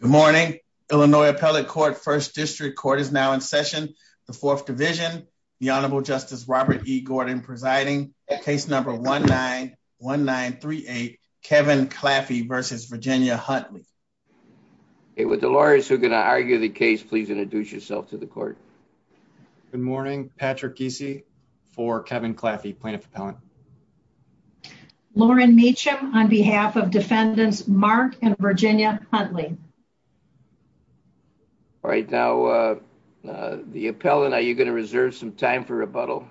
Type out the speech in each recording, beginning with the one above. Good morning, Illinois Appellate Court, 1st District Court is now in session, the 4th Division, the Honorable Justice Robert E. Gordon presiding, case number 1-9-1-9-3-8, Kevin Claffey v. Virginia Huntley. With the lawyers who are going to argue the case, please introduce yourself to the court. Good morning, Patrick Giese for Kevin Claffey, Plaintiff Appellant. Lauren Meacham on behalf of Defendants Mark and Virginia Huntley. All right, now the appellant, are you going to reserve some time for rebuttal?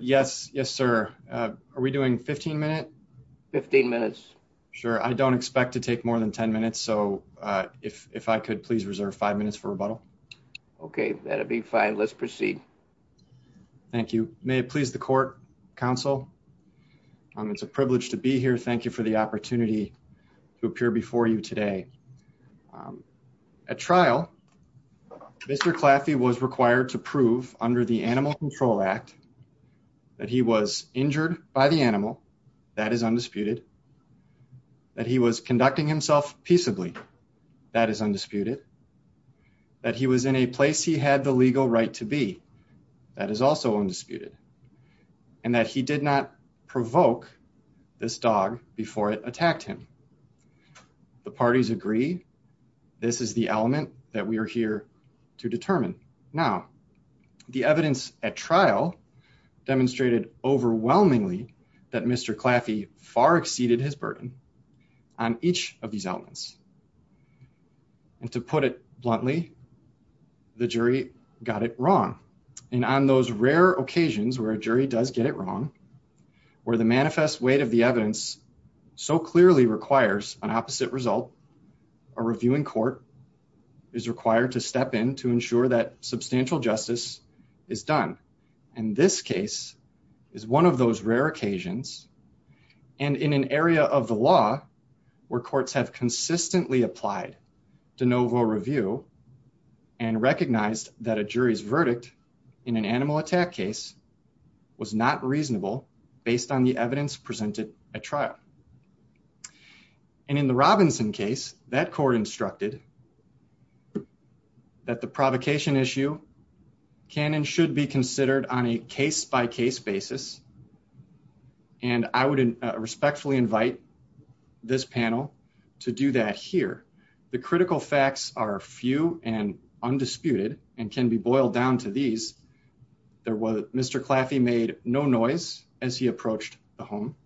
Yes, yes, sir. Are we doing 15 minutes? 15 minutes. Sure. I don't expect to take more than 10 minutes. So if I could please reserve five minutes for rebuttal. Okay, that'd be fine. Let's proceed. Thank you. May it please the court, counsel. It's a privilege to be here. Thank you for the opportunity to appear before you today. At trial, Mr. Claffey was required to prove under the Animal Control Act that he was injured by the animal. That is undisputed. That he was conducting himself peaceably. That is undisputed. That he was in a place he had the legal right to be. That is also undisputed. And that he did not provoke this dog before it attacked him. The parties agree. This is the element that we are here to determine. Now, the evidence at trial demonstrated overwhelmingly that Mr. Claffey far exceeded his burden on each of these elements. And to put it bluntly, the jury got it wrong. And on those rare occasions where a jury does get it wrong, where the manifest weight of the evidence so clearly requires an opposite result, a reviewing court is required to step in to ensure that substantial justice is done. And this case is one of those rare occasions. And in an area of the law where courts have consistently applied de novo review and recognized that a jury's verdict in an animal attack case was not reasonable based on the evidence presented at trial. And in the Robinson case, that court instructed that the provocation issue can and should be considered on a case-by-case basis. And I would respectfully invite this panel to do that here. The critical facts are few and undisputed and can be boiled down to these. Mr. Claffey made no noise as he approached the home.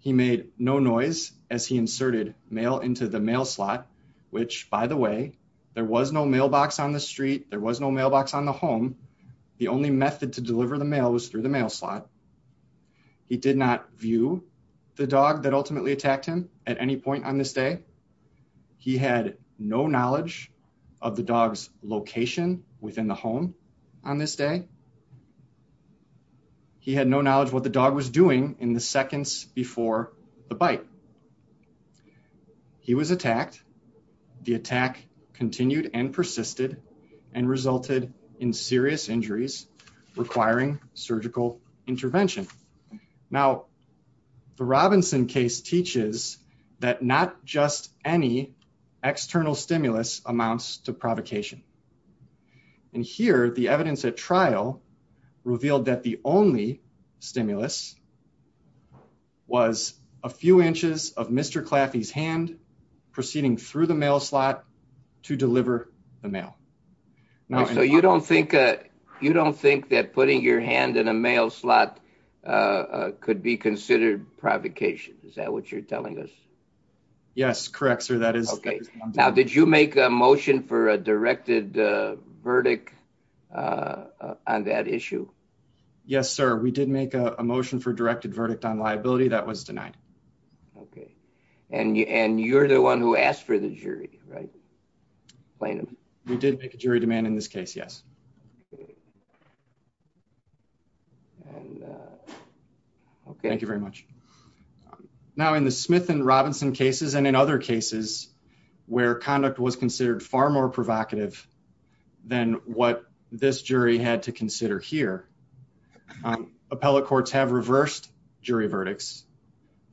He made no noise as he inserted mail into the mail slot, which, by the way, there was no mailbox on the street. There was no mailbox on the home. The only method to deliver the mail was through the mail slot. He did not view the dog that ultimately attacked him at any point on this day. He had no knowledge of the dog's location within the home on this day. He had no knowledge what the dog was doing in the seconds before the bite. He was attacked. The attack continued and persisted and resulted in serious injuries requiring surgical intervention. Now, the Robinson case teaches that not just any external stimulus amounts to provocation. And here, the evidence at trial revealed that the only stimulus was a few inches of Mr. Claffey's hand proceeding through the mail slot to deliver the mail. So you don't think you don't think that putting your hand in a mail slot could be considered provocation? Is that what you're telling us? Yes, correct, sir. That is OK. Now, did you make a motion for a directed verdict on that issue? Yes, sir. We did make a motion for directed verdict on liability that was denied. OK, and you and you're the one who asked for the jury, right? We did make a jury demand in this case. Yes. OK, thank you very much. Now, in the Smith and Robinson cases and in other cases where conduct was considered far more provocative than what this jury had to consider here. Appellate courts have reversed jury verdicts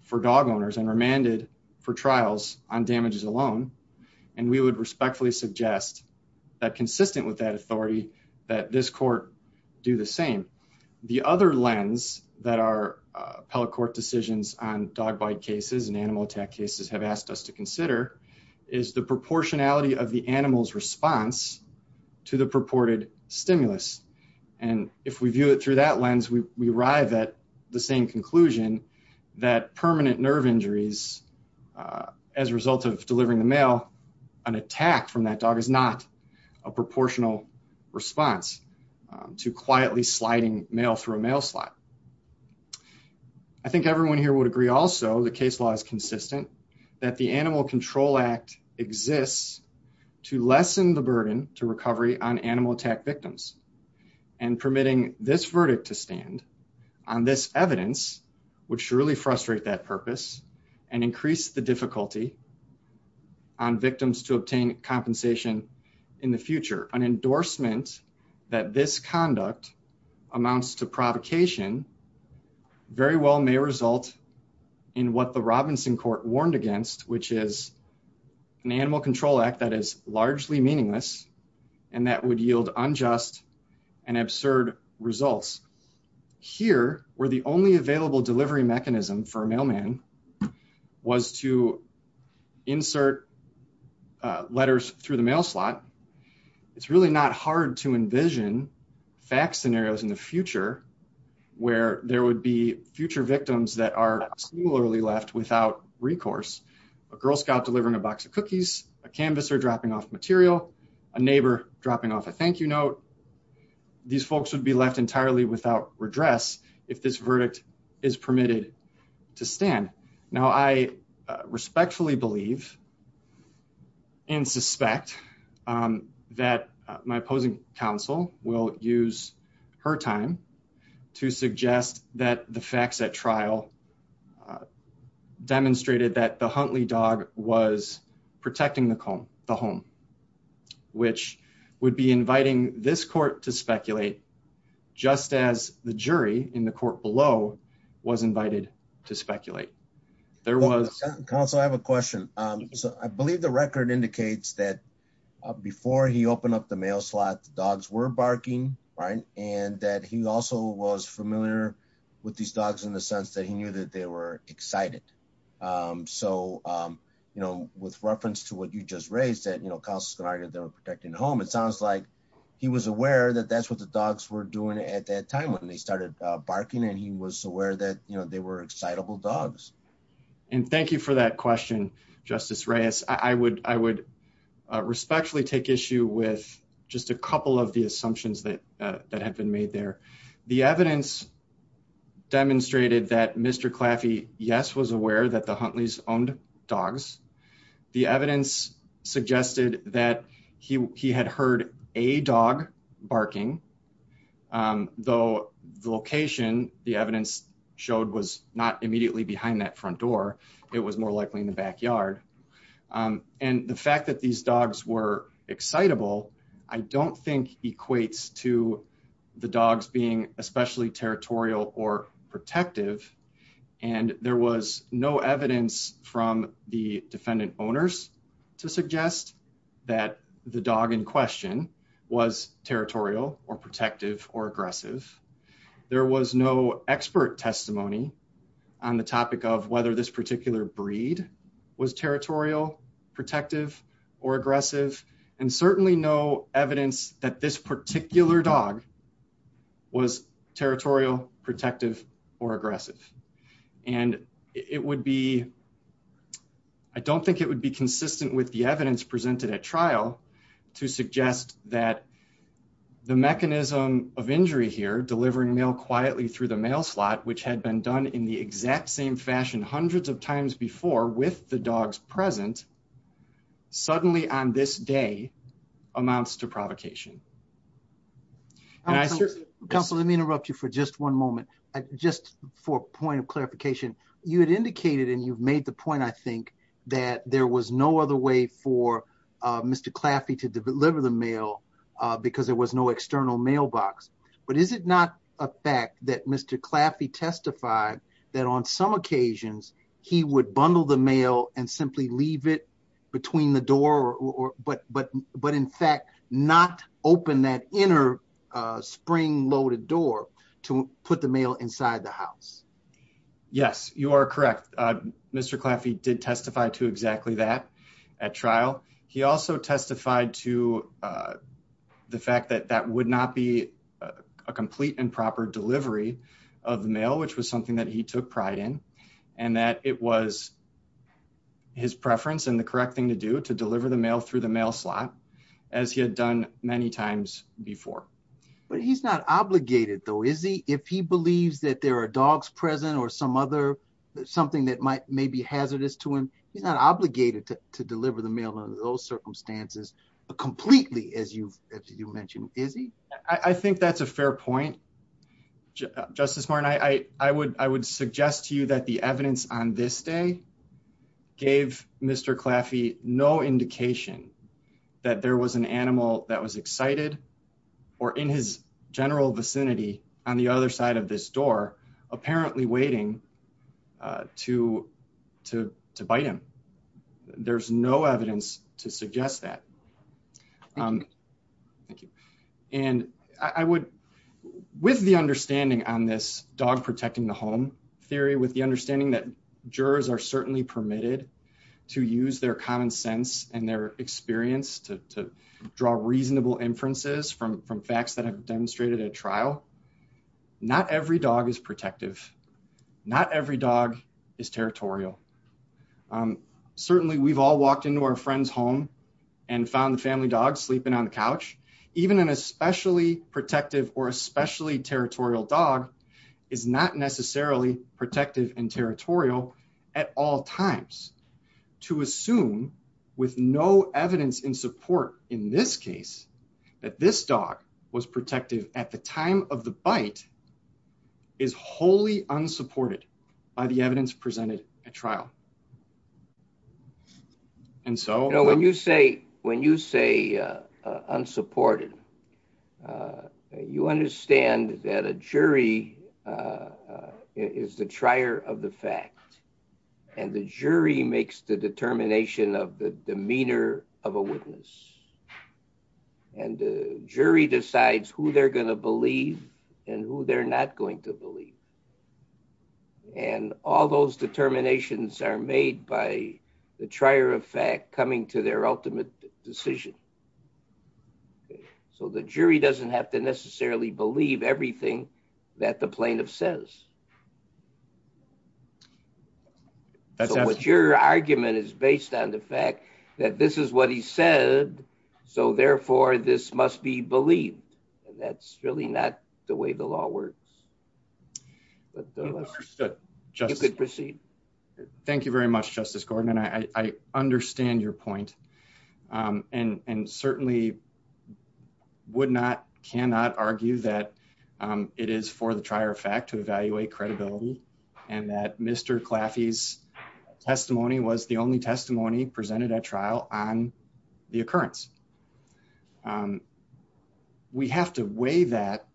for dog owners and remanded for trials on damages alone. And we would respectfully suggest that consistent with that authority, that this court do the same. The other lens that our appellate court decisions on dog bite cases and animal attack cases have asked us to consider is the proportionality of the animal's response to the purported stimulus. And if we view it through that lens, we arrive at the same conclusion that permanent nerve injuries as a result of delivering the mail, an attack from that dog is not a proportional response to quietly sliding mail through a mail slot. I think everyone here would agree also the case law is consistent that the Animal Control Act exists to lessen the burden to recovery on animal attack victims and permitting this verdict to stand on this evidence, which really frustrate that purpose and increase the difficulty. On victims to obtain compensation in the future, an endorsement that this conduct amounts to provocation very well may result in what the Robinson court warned against, which is an Animal Control Act that is largely meaningless and that would yield unjust and absurd results. Here, where the only available delivery mechanism for a mailman was to insert letters through the mail slot, it's really not hard to envision fact scenarios in the future where there would be future victims that are singularly left without recourse. A Girl Scout delivering a box of cookies, a canvasser dropping off material, a neighbor dropping off a thank you note, these folks would be left entirely without redress if this verdict is permitted to stand. Now, I respectfully believe and suspect that my opposing counsel will use her time to suggest that the facts at trial demonstrated that the Huntley dog was protecting the home, which would be inviting this court to speculate, just as the jury in the court below was invited to speculate. There was also I have a question. So I believe the record indicates that before he opened up the mail slot dogs were barking, right, and that he also was familiar with these dogs in the sense that he knew that they were excited. So, you know, with reference to what you just raised that, you know, costs can argue they're protecting home. It sounds like he was aware that that's what the dogs were doing at that time when they started barking and he was aware that, you know, they were excitable dogs. And thank you for that question. Justice Reyes, I would I would respectfully take issue with just a couple of the assumptions that that have been made there. The evidence demonstrated that Mr. Claffey, yes, was aware that the Huntley's owned dogs. The evidence suggested that he had heard a dog barking, though, the location, the evidence showed was not immediately behind that front door. It was more likely in the backyard. And the fact that these dogs were excitable. I don't think equates to the dogs being especially territorial or protective and there was no evidence from the defendant owners to suggest that the dog in question was territorial or protective or aggressive. There was no expert testimony on the topic of whether this particular breed was territorial protective or aggressive and certainly no evidence that this particular dog was territorial protective or aggressive. And it would be. I don't think it would be consistent with the evidence presented at trial to suggest that the mechanism of injury here delivering mail quietly through the mail slot which had been done in the exact same fashion hundreds of times before with the dogs present suddenly on this day amounts to provocation. Councilor, let me interrupt you for just one moment. Just for point of clarification, you had indicated and you've made the point I think that there was no other way for Mr. Claffey to deliver the mail because there was no external mailbox. But is it not a fact that Mr. Claffey testified that on some occasions, he would bundle the mail and simply leave it between the door or but but but in fact not open that inner spring loaded door to put the mail inside the house. Yes, you are correct. Mr. Claffey did testify to exactly that at trial. He also testified to the fact that that would not be a complete and proper delivery of mail, which was something that he took pride in, and that it was his preference and the correct thing to do to deliver the mail through the mail slot, as he had done many times before. But he's not obligated though is he if he believes that there are dogs present or some other something that might may be hazardous to him. He's not obligated to deliver the mail in those circumstances, completely as you mentioned, is he, I think that's a fair point. Justice Martin I, I would, I would suggest to you that the evidence on this day, gave Mr. Claffey, no indication that there was an animal that was excited, or in his general vicinity. On the other side of this door, apparently waiting to, to, to bite him. There's no evidence to suggest that. Thank you. And I would, with the understanding on this dog protecting the home theory with the understanding that jurors are certainly permitted to use their common sense and their experience to draw reasonable inferences from from facts that have demonstrated at trial. Not every dog is protective. Not every dog is territorial. Certainly we've all walked into our friends home and found the family dog sleeping on the couch, even an especially protective or especially territorial dog is not necessarily protective and territorial at all times to assume with no evidence in support. However, in this case, that this dog was protective at the time of the bite is wholly unsupported by the evidence presented a trial. And so when you say when you say unsupported. You understand that a jury is the trier of the fact, and the jury makes the determination of the demeanor of a witness and jury decides who they're going to believe, and who they're not going to believe. And all those determinations are made by the trier of fact coming to their ultimate decision. So the jury doesn't have to necessarily believe everything that the plaintiff says. That's what your argument is based on the fact that this is what he said. So therefore, this must be believed. And that's really not the way the law works. But just proceed. Thank you very much, Justice Gordon and I understand your point. And and certainly would not cannot argue that it is for the trier of fact to evaluate credibility and that Mr classes testimony was the only testimony presented at trial on the occurrence. We have to weigh that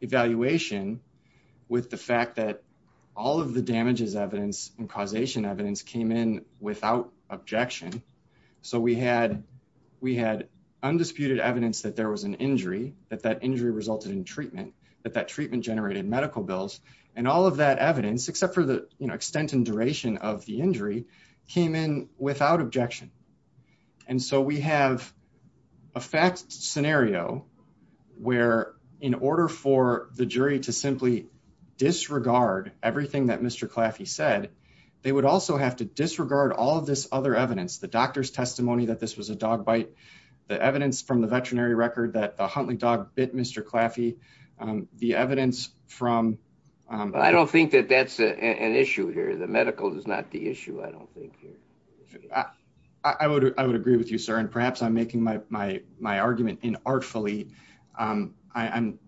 evaluation with the fact that all of the damages evidence and causation evidence came in without objection. So we had we had undisputed evidence that there was an injury that that injury resulted in treatment that that treatment generated medical bills and all of that evidence except for the extent and duration of the injury came in without objection. And so we have a fact scenario where, in order for the jury to simply disregard everything that Mr class, he said they would also have to disregard all of this other evidence the doctor's testimony that this was a dog bite. The evidence from the veterinary record that the Huntley dog bit Mr classy the evidence from I don't think that that's an issue here. The medical is not the issue. I don't think here. I would I would agree with you, sir. And perhaps I'm making my my my argument in artfully I'm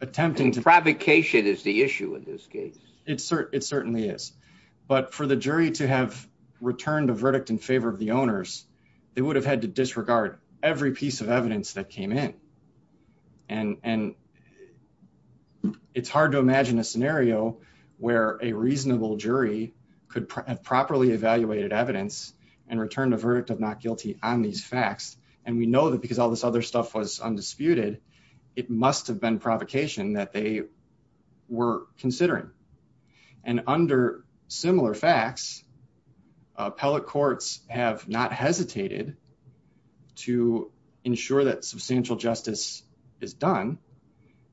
attempting to provocation is the issue in this case, it's certainly it certainly is. But for the jury to have returned a verdict in favor of the owners, they would have had to disregard every piece of evidence that came in. And, and it's hard to imagine a scenario where a reasonable jury could have properly evaluated evidence and returned a verdict of not guilty on these facts, and we know that because all this other stuff was undisputed. It must have been provocation that they were considering and under similar facts appellate courts have not hesitated to ensure that substantial justice is done.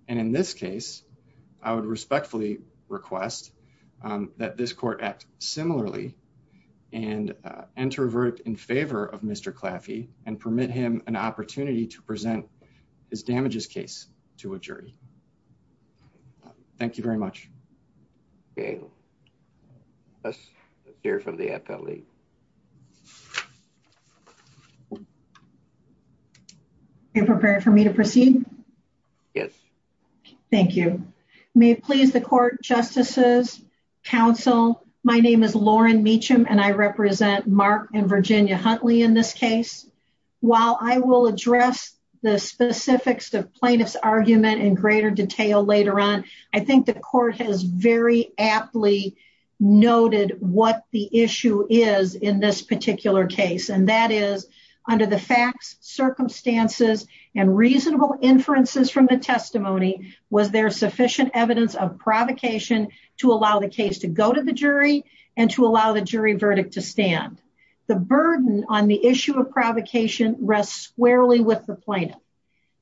And in this case, I would respectfully request that this court act, similarly, and enter a verdict in favor of Mr classy and permit him an opportunity to present his damages case to a jury. Thank you very much. Okay. Let's hear from the FAA. And prepare for me to proceed. Yes. Thank you. May please the court justices council. My name is Lauren meet him and I represent Mark and Virginia Huntley in this case, while I will address the specifics of plaintiffs argument in greater detail later on. I think the court has very aptly noted what the issue is in this particular case and that is under the facts circumstances and reasonable inferences from the testimony. Was there sufficient evidence of provocation to allow the case to go to the jury and to allow the jury verdict to stand the burden on the issue of provocation rest squarely with the plaintiff.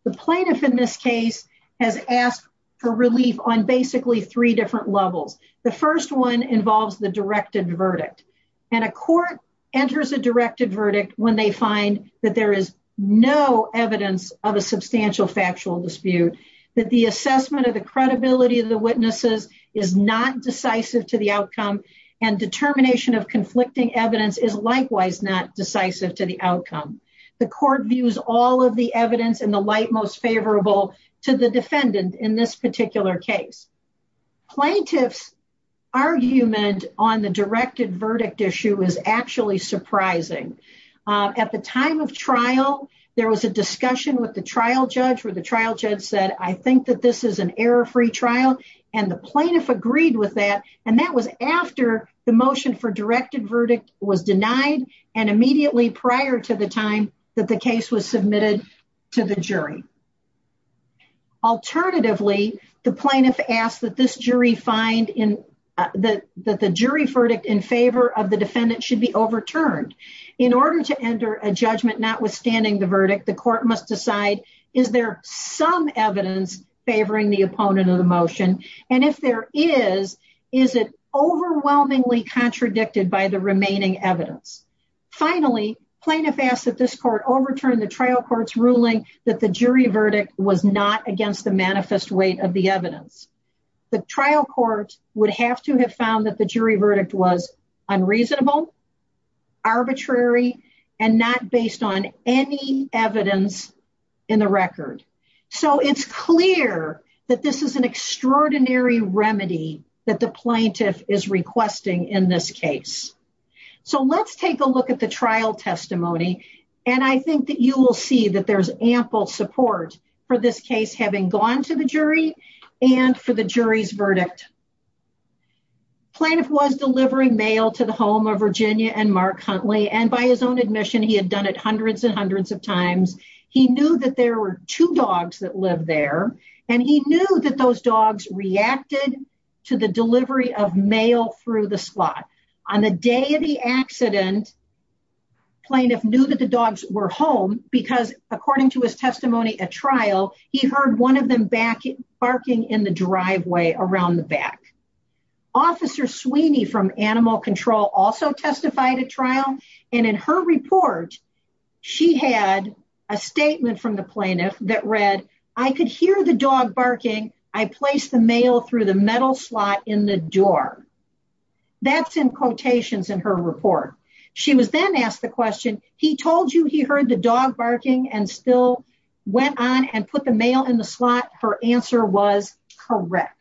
The plaintiff in this case has asked for relief on basically three different levels. The first one involves the directed verdict. And a court enters a directed verdict when they find that there is no evidence of a substantial factual dispute that the assessment of the credibility of the witnesses is not decisive to the outcome and determination of conflicting evidence is likewise not decisive to the outcome. The court views all of the evidence in the light most favorable to the defendant in this particular case plaintiffs argument on the directed verdict issue is actually surprising. At the time of trial, there was a discussion with the trial judge for the trial judge said, I think that this is an error free trial and the plaintiff agreed with that. And that was after the motion for directed verdict was denied and immediately prior to the time that the case was submitted to the jury. Alternatively, the plaintiff asked that this jury find in the jury verdict in favor of the defendant should be overturned in order to enter a judgment notwithstanding the verdict. The court must decide. Is there some evidence favoring the opponent of the motion? And if there is, is it overwhelmingly contradicted by the remaining evidence? Finally, plaintiff asked that this court overturned the trial court's ruling that the jury verdict was not against the manifest weight of the evidence. The trial court would have to have found that the jury verdict was unreasonable, arbitrary, and not based on any evidence in the record. So it's clear that this is an extraordinary remedy that the plaintiff is requesting in this case. So let's take a look at the trial testimony. And I think that you will see that there's ample support for this case having gone to the jury and for the jury's verdict. Plaintiff was delivering mail to the home of Virginia and Mark Huntley. And by his own admission, he had done it hundreds and hundreds of times. He knew that there were two dogs that live there. And he knew that those dogs reacted to the delivery of mail through the slot. On the day of the accident, plaintiff knew that the dogs were home because according to his testimony at trial, he heard one of them barking in the driveway around the back. Officer Sweeney from Animal Control also testified at trial. And in her report, she had a statement from the plaintiff that read, I could hear the dog barking. I placed the mail through the metal slot in the door. That's in quotations in her report. She was then asked the question, he told you he heard the dog barking and still went on and put the mail in the slot? Her answer was correct.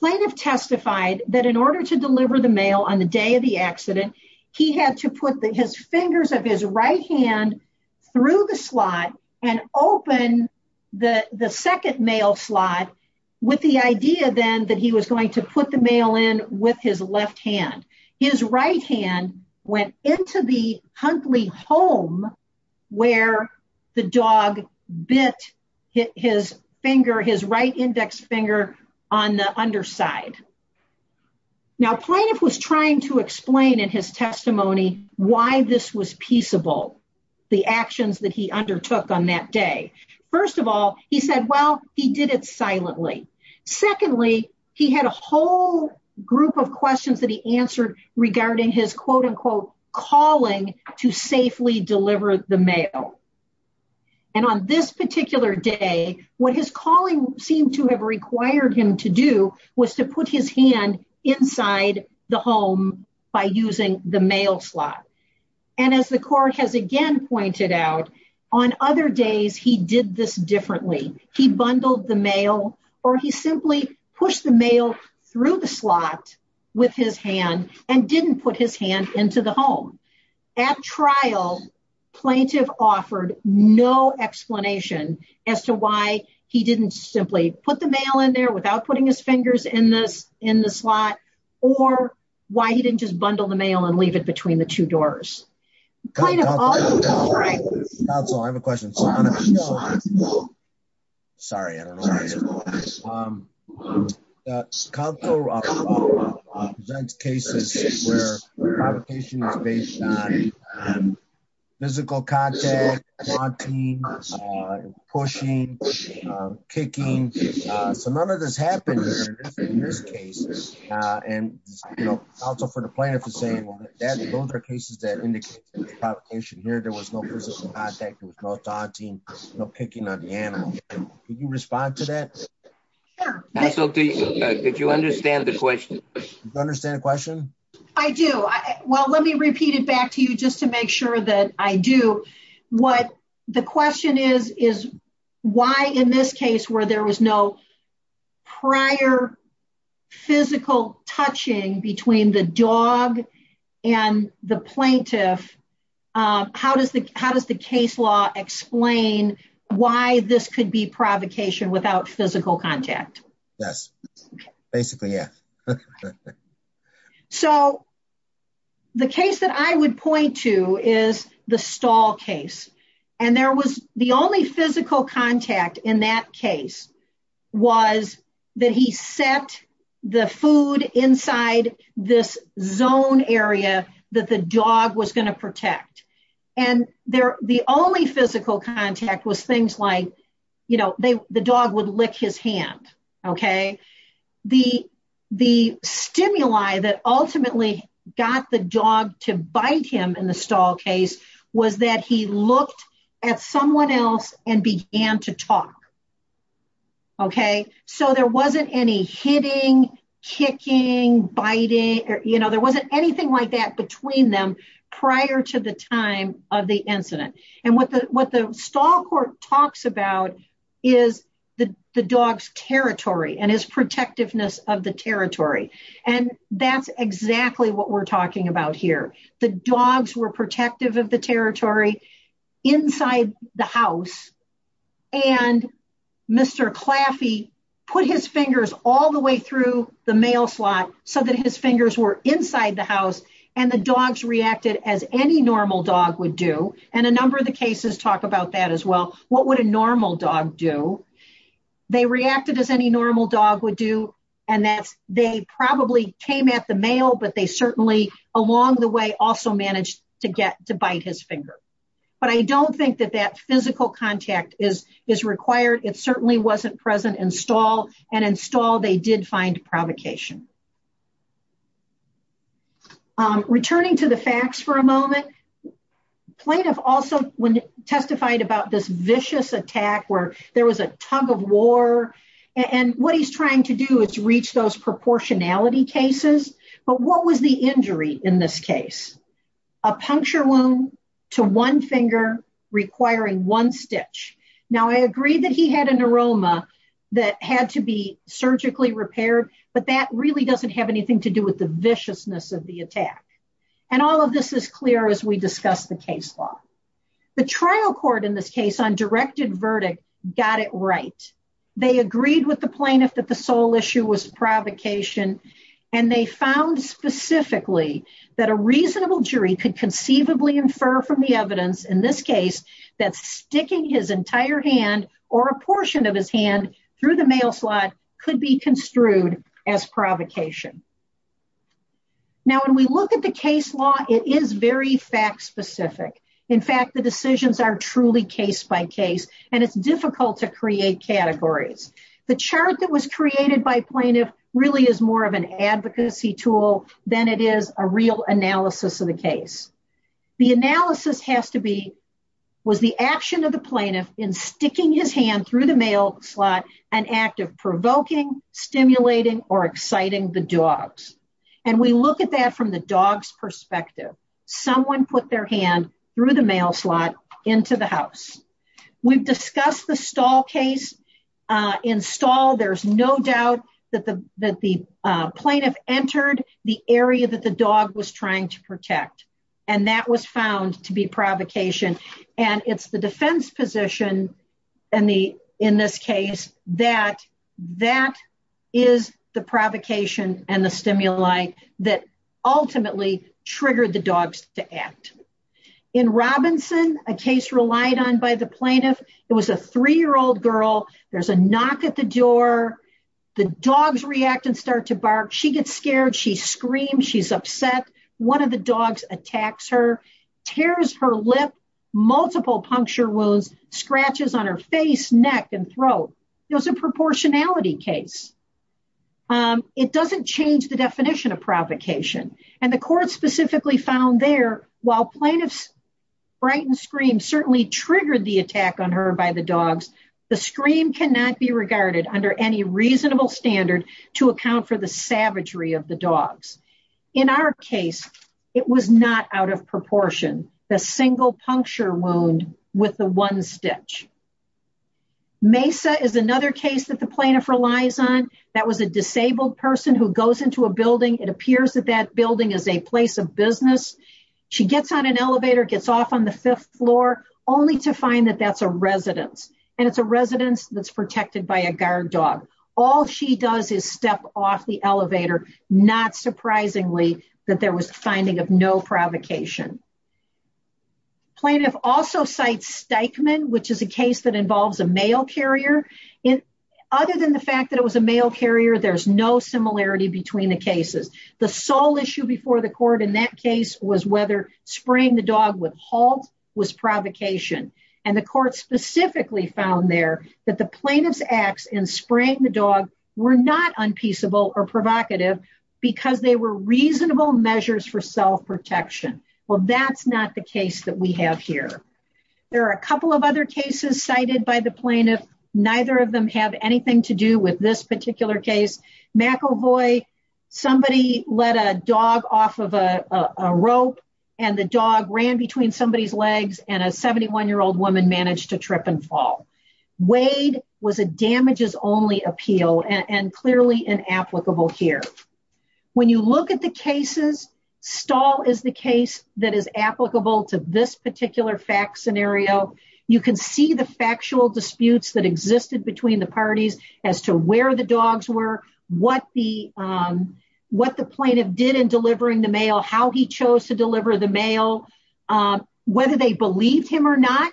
She testified that in order to deliver the mail on the day of the accident, he had to put his fingers of his right hand through the slot and open the second mail slot with the idea then that he was going to put the mail in with his left hand. His right hand went into the hunkly home where the dog bit his finger, his right index finger on the underside. Now plaintiff was trying to explain in his testimony why this was peaceable, the actions that he undertook on that day. First of all, he said, well, he did it silently. Secondly, he had a whole group of questions that he answered regarding his quote unquote calling to safely deliver the mail. And on this particular day, what his calling seemed to have required him to do was to put his hand inside the home by using the mail slot. And as the court has again pointed out, on other days, he did this differently. He bundled the mail or he simply pushed the mail through the slot with his hand and didn't put his hand into the home. At trial, plaintiff offered no explanation as to why he didn't simply put the mail in there without putting his fingers in the slot or why he didn't just bundle the mail and leave it between the two doors. Counsel, I have a question. Sorry, I don't know. Counsel presents cases where provocation is based on physical contact, taunting, pushing, kicking. So none of this happened in this case. And also for the plaintiff to say that those are cases that indicate provocation here. There was no physical contact, no taunting, no picking on the animal. Can you respond to that? Sure. Counsel, did you understand the question? Do you understand the question? I do. Well, let me repeat it back to you just to make sure that I do. The question is, why in this case where there was no prior physical touching between the dog and the plaintiff, how does the case law explain why this could be provocation without physical contact? Yes. Basically, yes. So the case that I would point to is the stall case. And there was the only physical contact in that case was that he set the food inside this zone area that the dog was going to protect. And the only physical contact was things like, you know, the dog would lick his hand. The stimuli that ultimately got the dog to bite him in the stall case was that he looked at someone else and began to talk. So there wasn't any hitting, kicking, biting, you know, there wasn't anything like that between them prior to the time of the incident. And what the stall court talks about is the dog's territory and his protectiveness of the territory. And that's exactly what we're talking about here. The dogs were protective of the territory inside the house. And Mr. Claffey put his fingers all the way through the mail slot so that his fingers were inside the house. And the dogs reacted as any normal dog would do. And a number of the cases talk about that as well. What would a normal dog do? They reacted as any normal dog would do. And they probably came at the mail, but they certainly along the way also managed to bite his finger. But I don't think that that physical contact is required. It certainly wasn't present in stall. And in stall they did find provocation. Returning to the facts for a moment. Plaintiff also testified about this vicious attack where there was a tug of war. And what he's trying to do is reach those proportionality cases. But what was the injury in this case? A puncture wound to one finger requiring one stitch. Now, I agree that he had an aroma that had to be surgically repaired. But that really doesn't have anything to do with the viciousness of the attack. And all of this is clear as we discuss the case law. The trial court in this case on directed verdict got it right. They agreed with the plaintiff that the sole issue was provocation. And they found specifically that a reasonable jury could conceivably infer from the evidence in this case that sticking his entire hand or a portion of his hand through the mail slot could be construed as provocation. Now, when we look at the case law, it is very fact specific. In fact, the decisions are truly case by case. And it's difficult to create categories. The chart that was created by plaintiff really is more of an advocacy tool than it is a real analysis of the case. The analysis was the action of the plaintiff in sticking his hand through the mail slot, an act of provoking, stimulating, or exciting the dogs. And we look at that from the dog's perspective. Someone put their hand through the mail slot into the house. We've discussed the stall case. In stall, there's no doubt that the plaintiff entered the area that the dog was trying to protect. And that was found to be provocation. And it's the defense position in this case that that is the provocation and the stimuli that ultimately triggered the dogs to act. In Robinson, a case relied on by the plaintiff, it was a three-year-old girl. There's a knock at the door. The dogs react and start to bark. She gets scared. She screams. She's upset. One of the dogs attacks her, tears her lip, multiple puncture wounds, scratches on her face, neck, and throat. It was a proportionality case. It doesn't change the definition of provocation. And the court specifically found there, while plaintiff's frightened scream certainly triggered the attack on her by the dogs, the scream cannot be regarded under any reasonable standard to account for the savagery of the dogs. In our case, it was not out of proportion. The single puncture wound with the one stitch. Mesa is another case that the plaintiff relies on. That was a disabled person who goes into a building. It appears that that building is a place of business. She gets on an elevator, gets off on the fifth floor, only to find that that's a residence. And it's a residence that's protected by a guard dog. All she does is step off the elevator. Not surprisingly, that there was finding of no provocation. Plaintiff also cites Steichman, which is a case that involves a mail carrier. Other than the fact that it was a mail carrier, there's no similarity between the cases. The sole issue before the court in that case was whether spraying the dog with halt was provocation. And the court specifically found there that the plaintiff's acts in spraying the dog were not unpeaceable or provocative, because they were reasonable measures for self-protection. Well, that's not the case that we have here. There are a couple of other cases cited by the plaintiff. Neither of them have anything to do with this particular case. McEvoy, somebody let a dog off of a rope, and the dog ran between somebody's legs, and a 71-year-old woman managed to trip and fall. Wade was a damages-only appeal, and clearly inapplicable here. When you look at the cases, Stahl is the case that is applicable to this particular fact scenario. You can see the factual disputes that existed between the parties as to where the dogs were, what the plaintiff did in delivering the mail, how he chose to deliver the mail, whether they believed him or not,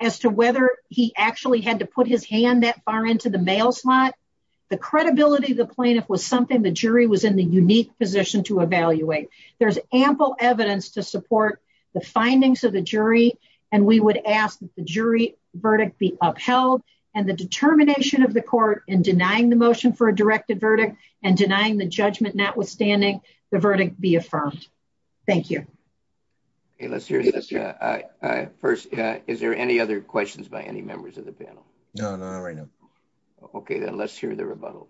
as to whether he actually had to put his hand that far into the mail slot. The credibility of the plaintiff was something the jury was in the unique position to evaluate. There's ample evidence to support the findings of the jury, and we would ask that the jury verdict be upheld, and the determination of the court in denying the motion for a directed verdict and denying the judgment notwithstanding the verdict be affirmed. Thank you. First, is there any other questions by any members of the panel? No, not right now. Okay, then let's hear the rebuttal.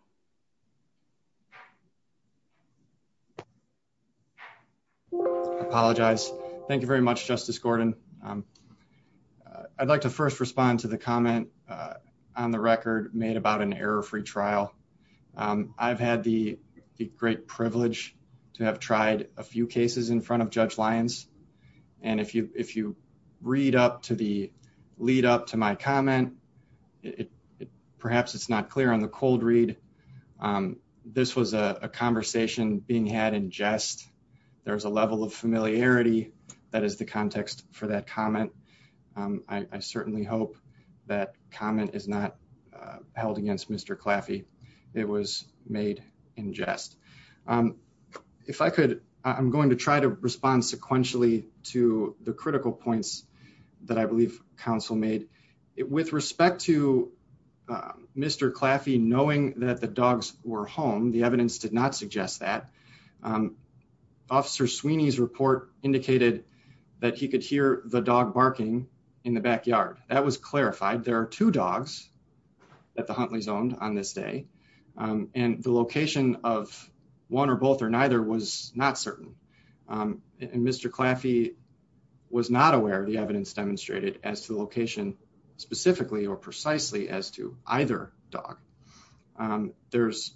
I apologize. Thank you very much, Justice Gordon. I'd like to first respond to the comment on the record made about an error-free trial. I've had the great privilege to have tried a few cases in front of Judge Lyons, and if you read up to the lead up to my comment, perhaps it's not clear on the cold read. This was a conversation being had in jest. There's a level of familiarity that is the context for that comment. I certainly hope that comment is not held against Mr. Claffey. It was made in jest. I'm going to try to respond sequentially to the critical points that I believe counsel made. With respect to Mr. Claffey knowing that the dogs were home, the evidence did not suggest that. Officer Sweeney's report indicated that he could hear the dog barking in the backyard. That was clarified. There are two dogs that the Huntleys owned on this day, and the location of one or both or neither was not certain. And Mr. Claffey was not aware of the evidence demonstrated as to the location specifically or precisely as to either dog. On the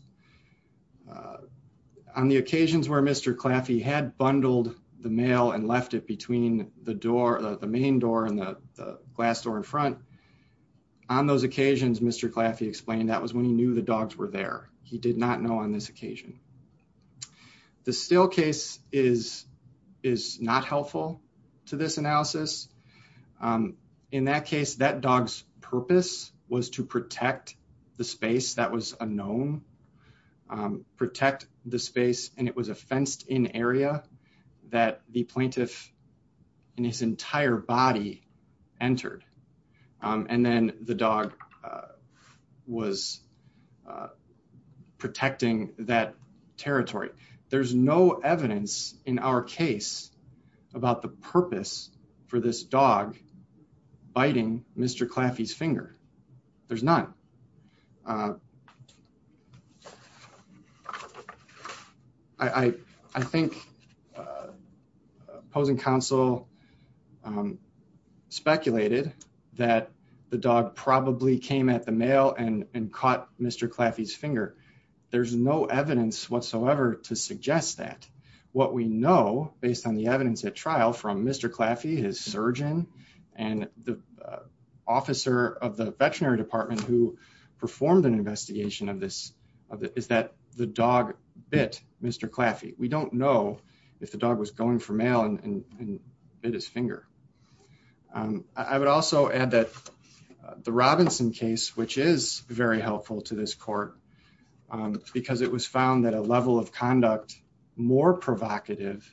occasions where Mr. Claffey had bundled the mail and left it between the door, the main door and the glass door in front, on those occasions, Mr. Claffey explained that was when he knew the dogs were there. He did not know on this occasion. The still case is not helpful to this analysis. In that case, that dog's purpose was to protect the space that was unknown, protect the space, and it was a fenced in area that the plaintiff and his entire body entered. And then the dog was protecting that territory. There's no evidence in our case about the purpose for this dog biting Mr. Claffey's finger. There's none. I think opposing counsel speculated that the dog probably came at the mail and caught Mr. Claffey's finger. There's no evidence whatsoever to suggest that. What we know, based on the evidence at trial from Mr. Claffey, his surgeon, and the officer of the veterinary department who performed an investigation of this, is that the dog bit Mr. Claffey. We don't know if the dog was going for mail and bit his finger. I would also add that the Robinson case, which is very helpful to this court, because it was found that a level of conduct more provocative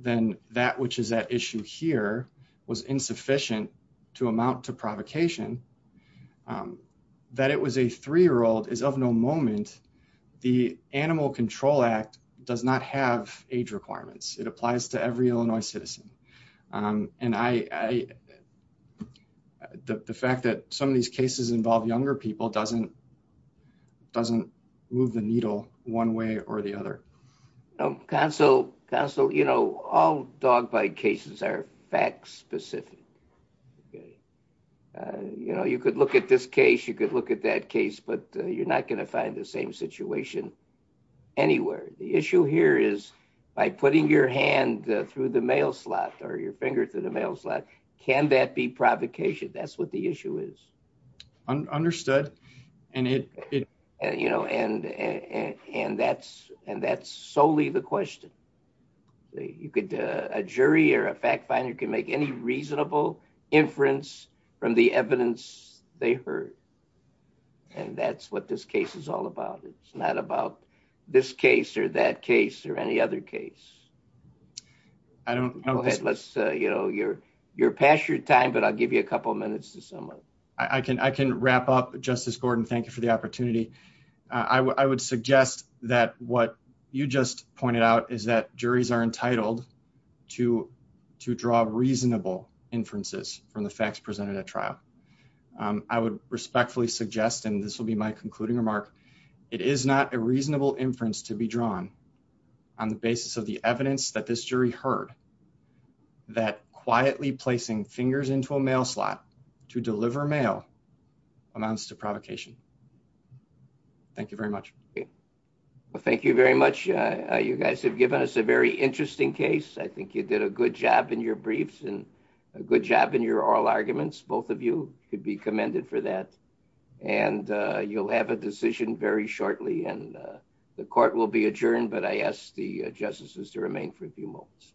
than that which is at issue here, was insufficient to amount to provocation, that it was a three-year-old is of no moment. The Animal Control Act does not have age requirements. It applies to every Illinois citizen. And the fact that some of these cases involve younger people doesn't move the needle one way or the other. Counsel, all dog bite cases are fact specific. You could look at this case, you could look at that case, but you're not going to find the same situation anywhere. The issue here is by putting your hand through the mail slot or your finger through the mail slot, can that be provocation? That's what the issue is. Understood. And that's solely the question. A jury or a fact finder can make any reasonable inference from the evidence they heard. And that's what this case is all about. It's not about this case or that case or any other case. You're past your time, but I'll give you a couple of minutes to sum up. I can wrap up. Justice Gordon, thank you for the opportunity. I would suggest that what you just pointed out is that juries are entitled to draw reasonable inferences from the facts presented at trial. I would respectfully suggest, and this will be my concluding remark. It is not a reasonable inference to be drawn on the basis of the evidence that this jury heard that quietly placing fingers into a mail slot to deliver mail amounts to provocation. Thank you very much. Well, thank you very much. You guys have given us a very interesting case. I think you did a good job in your briefs and a good job in your oral arguments. Both of you could be commended for that. And you'll have a decision very shortly and the court will be adjourned. But I asked the justices to remain for a few moments.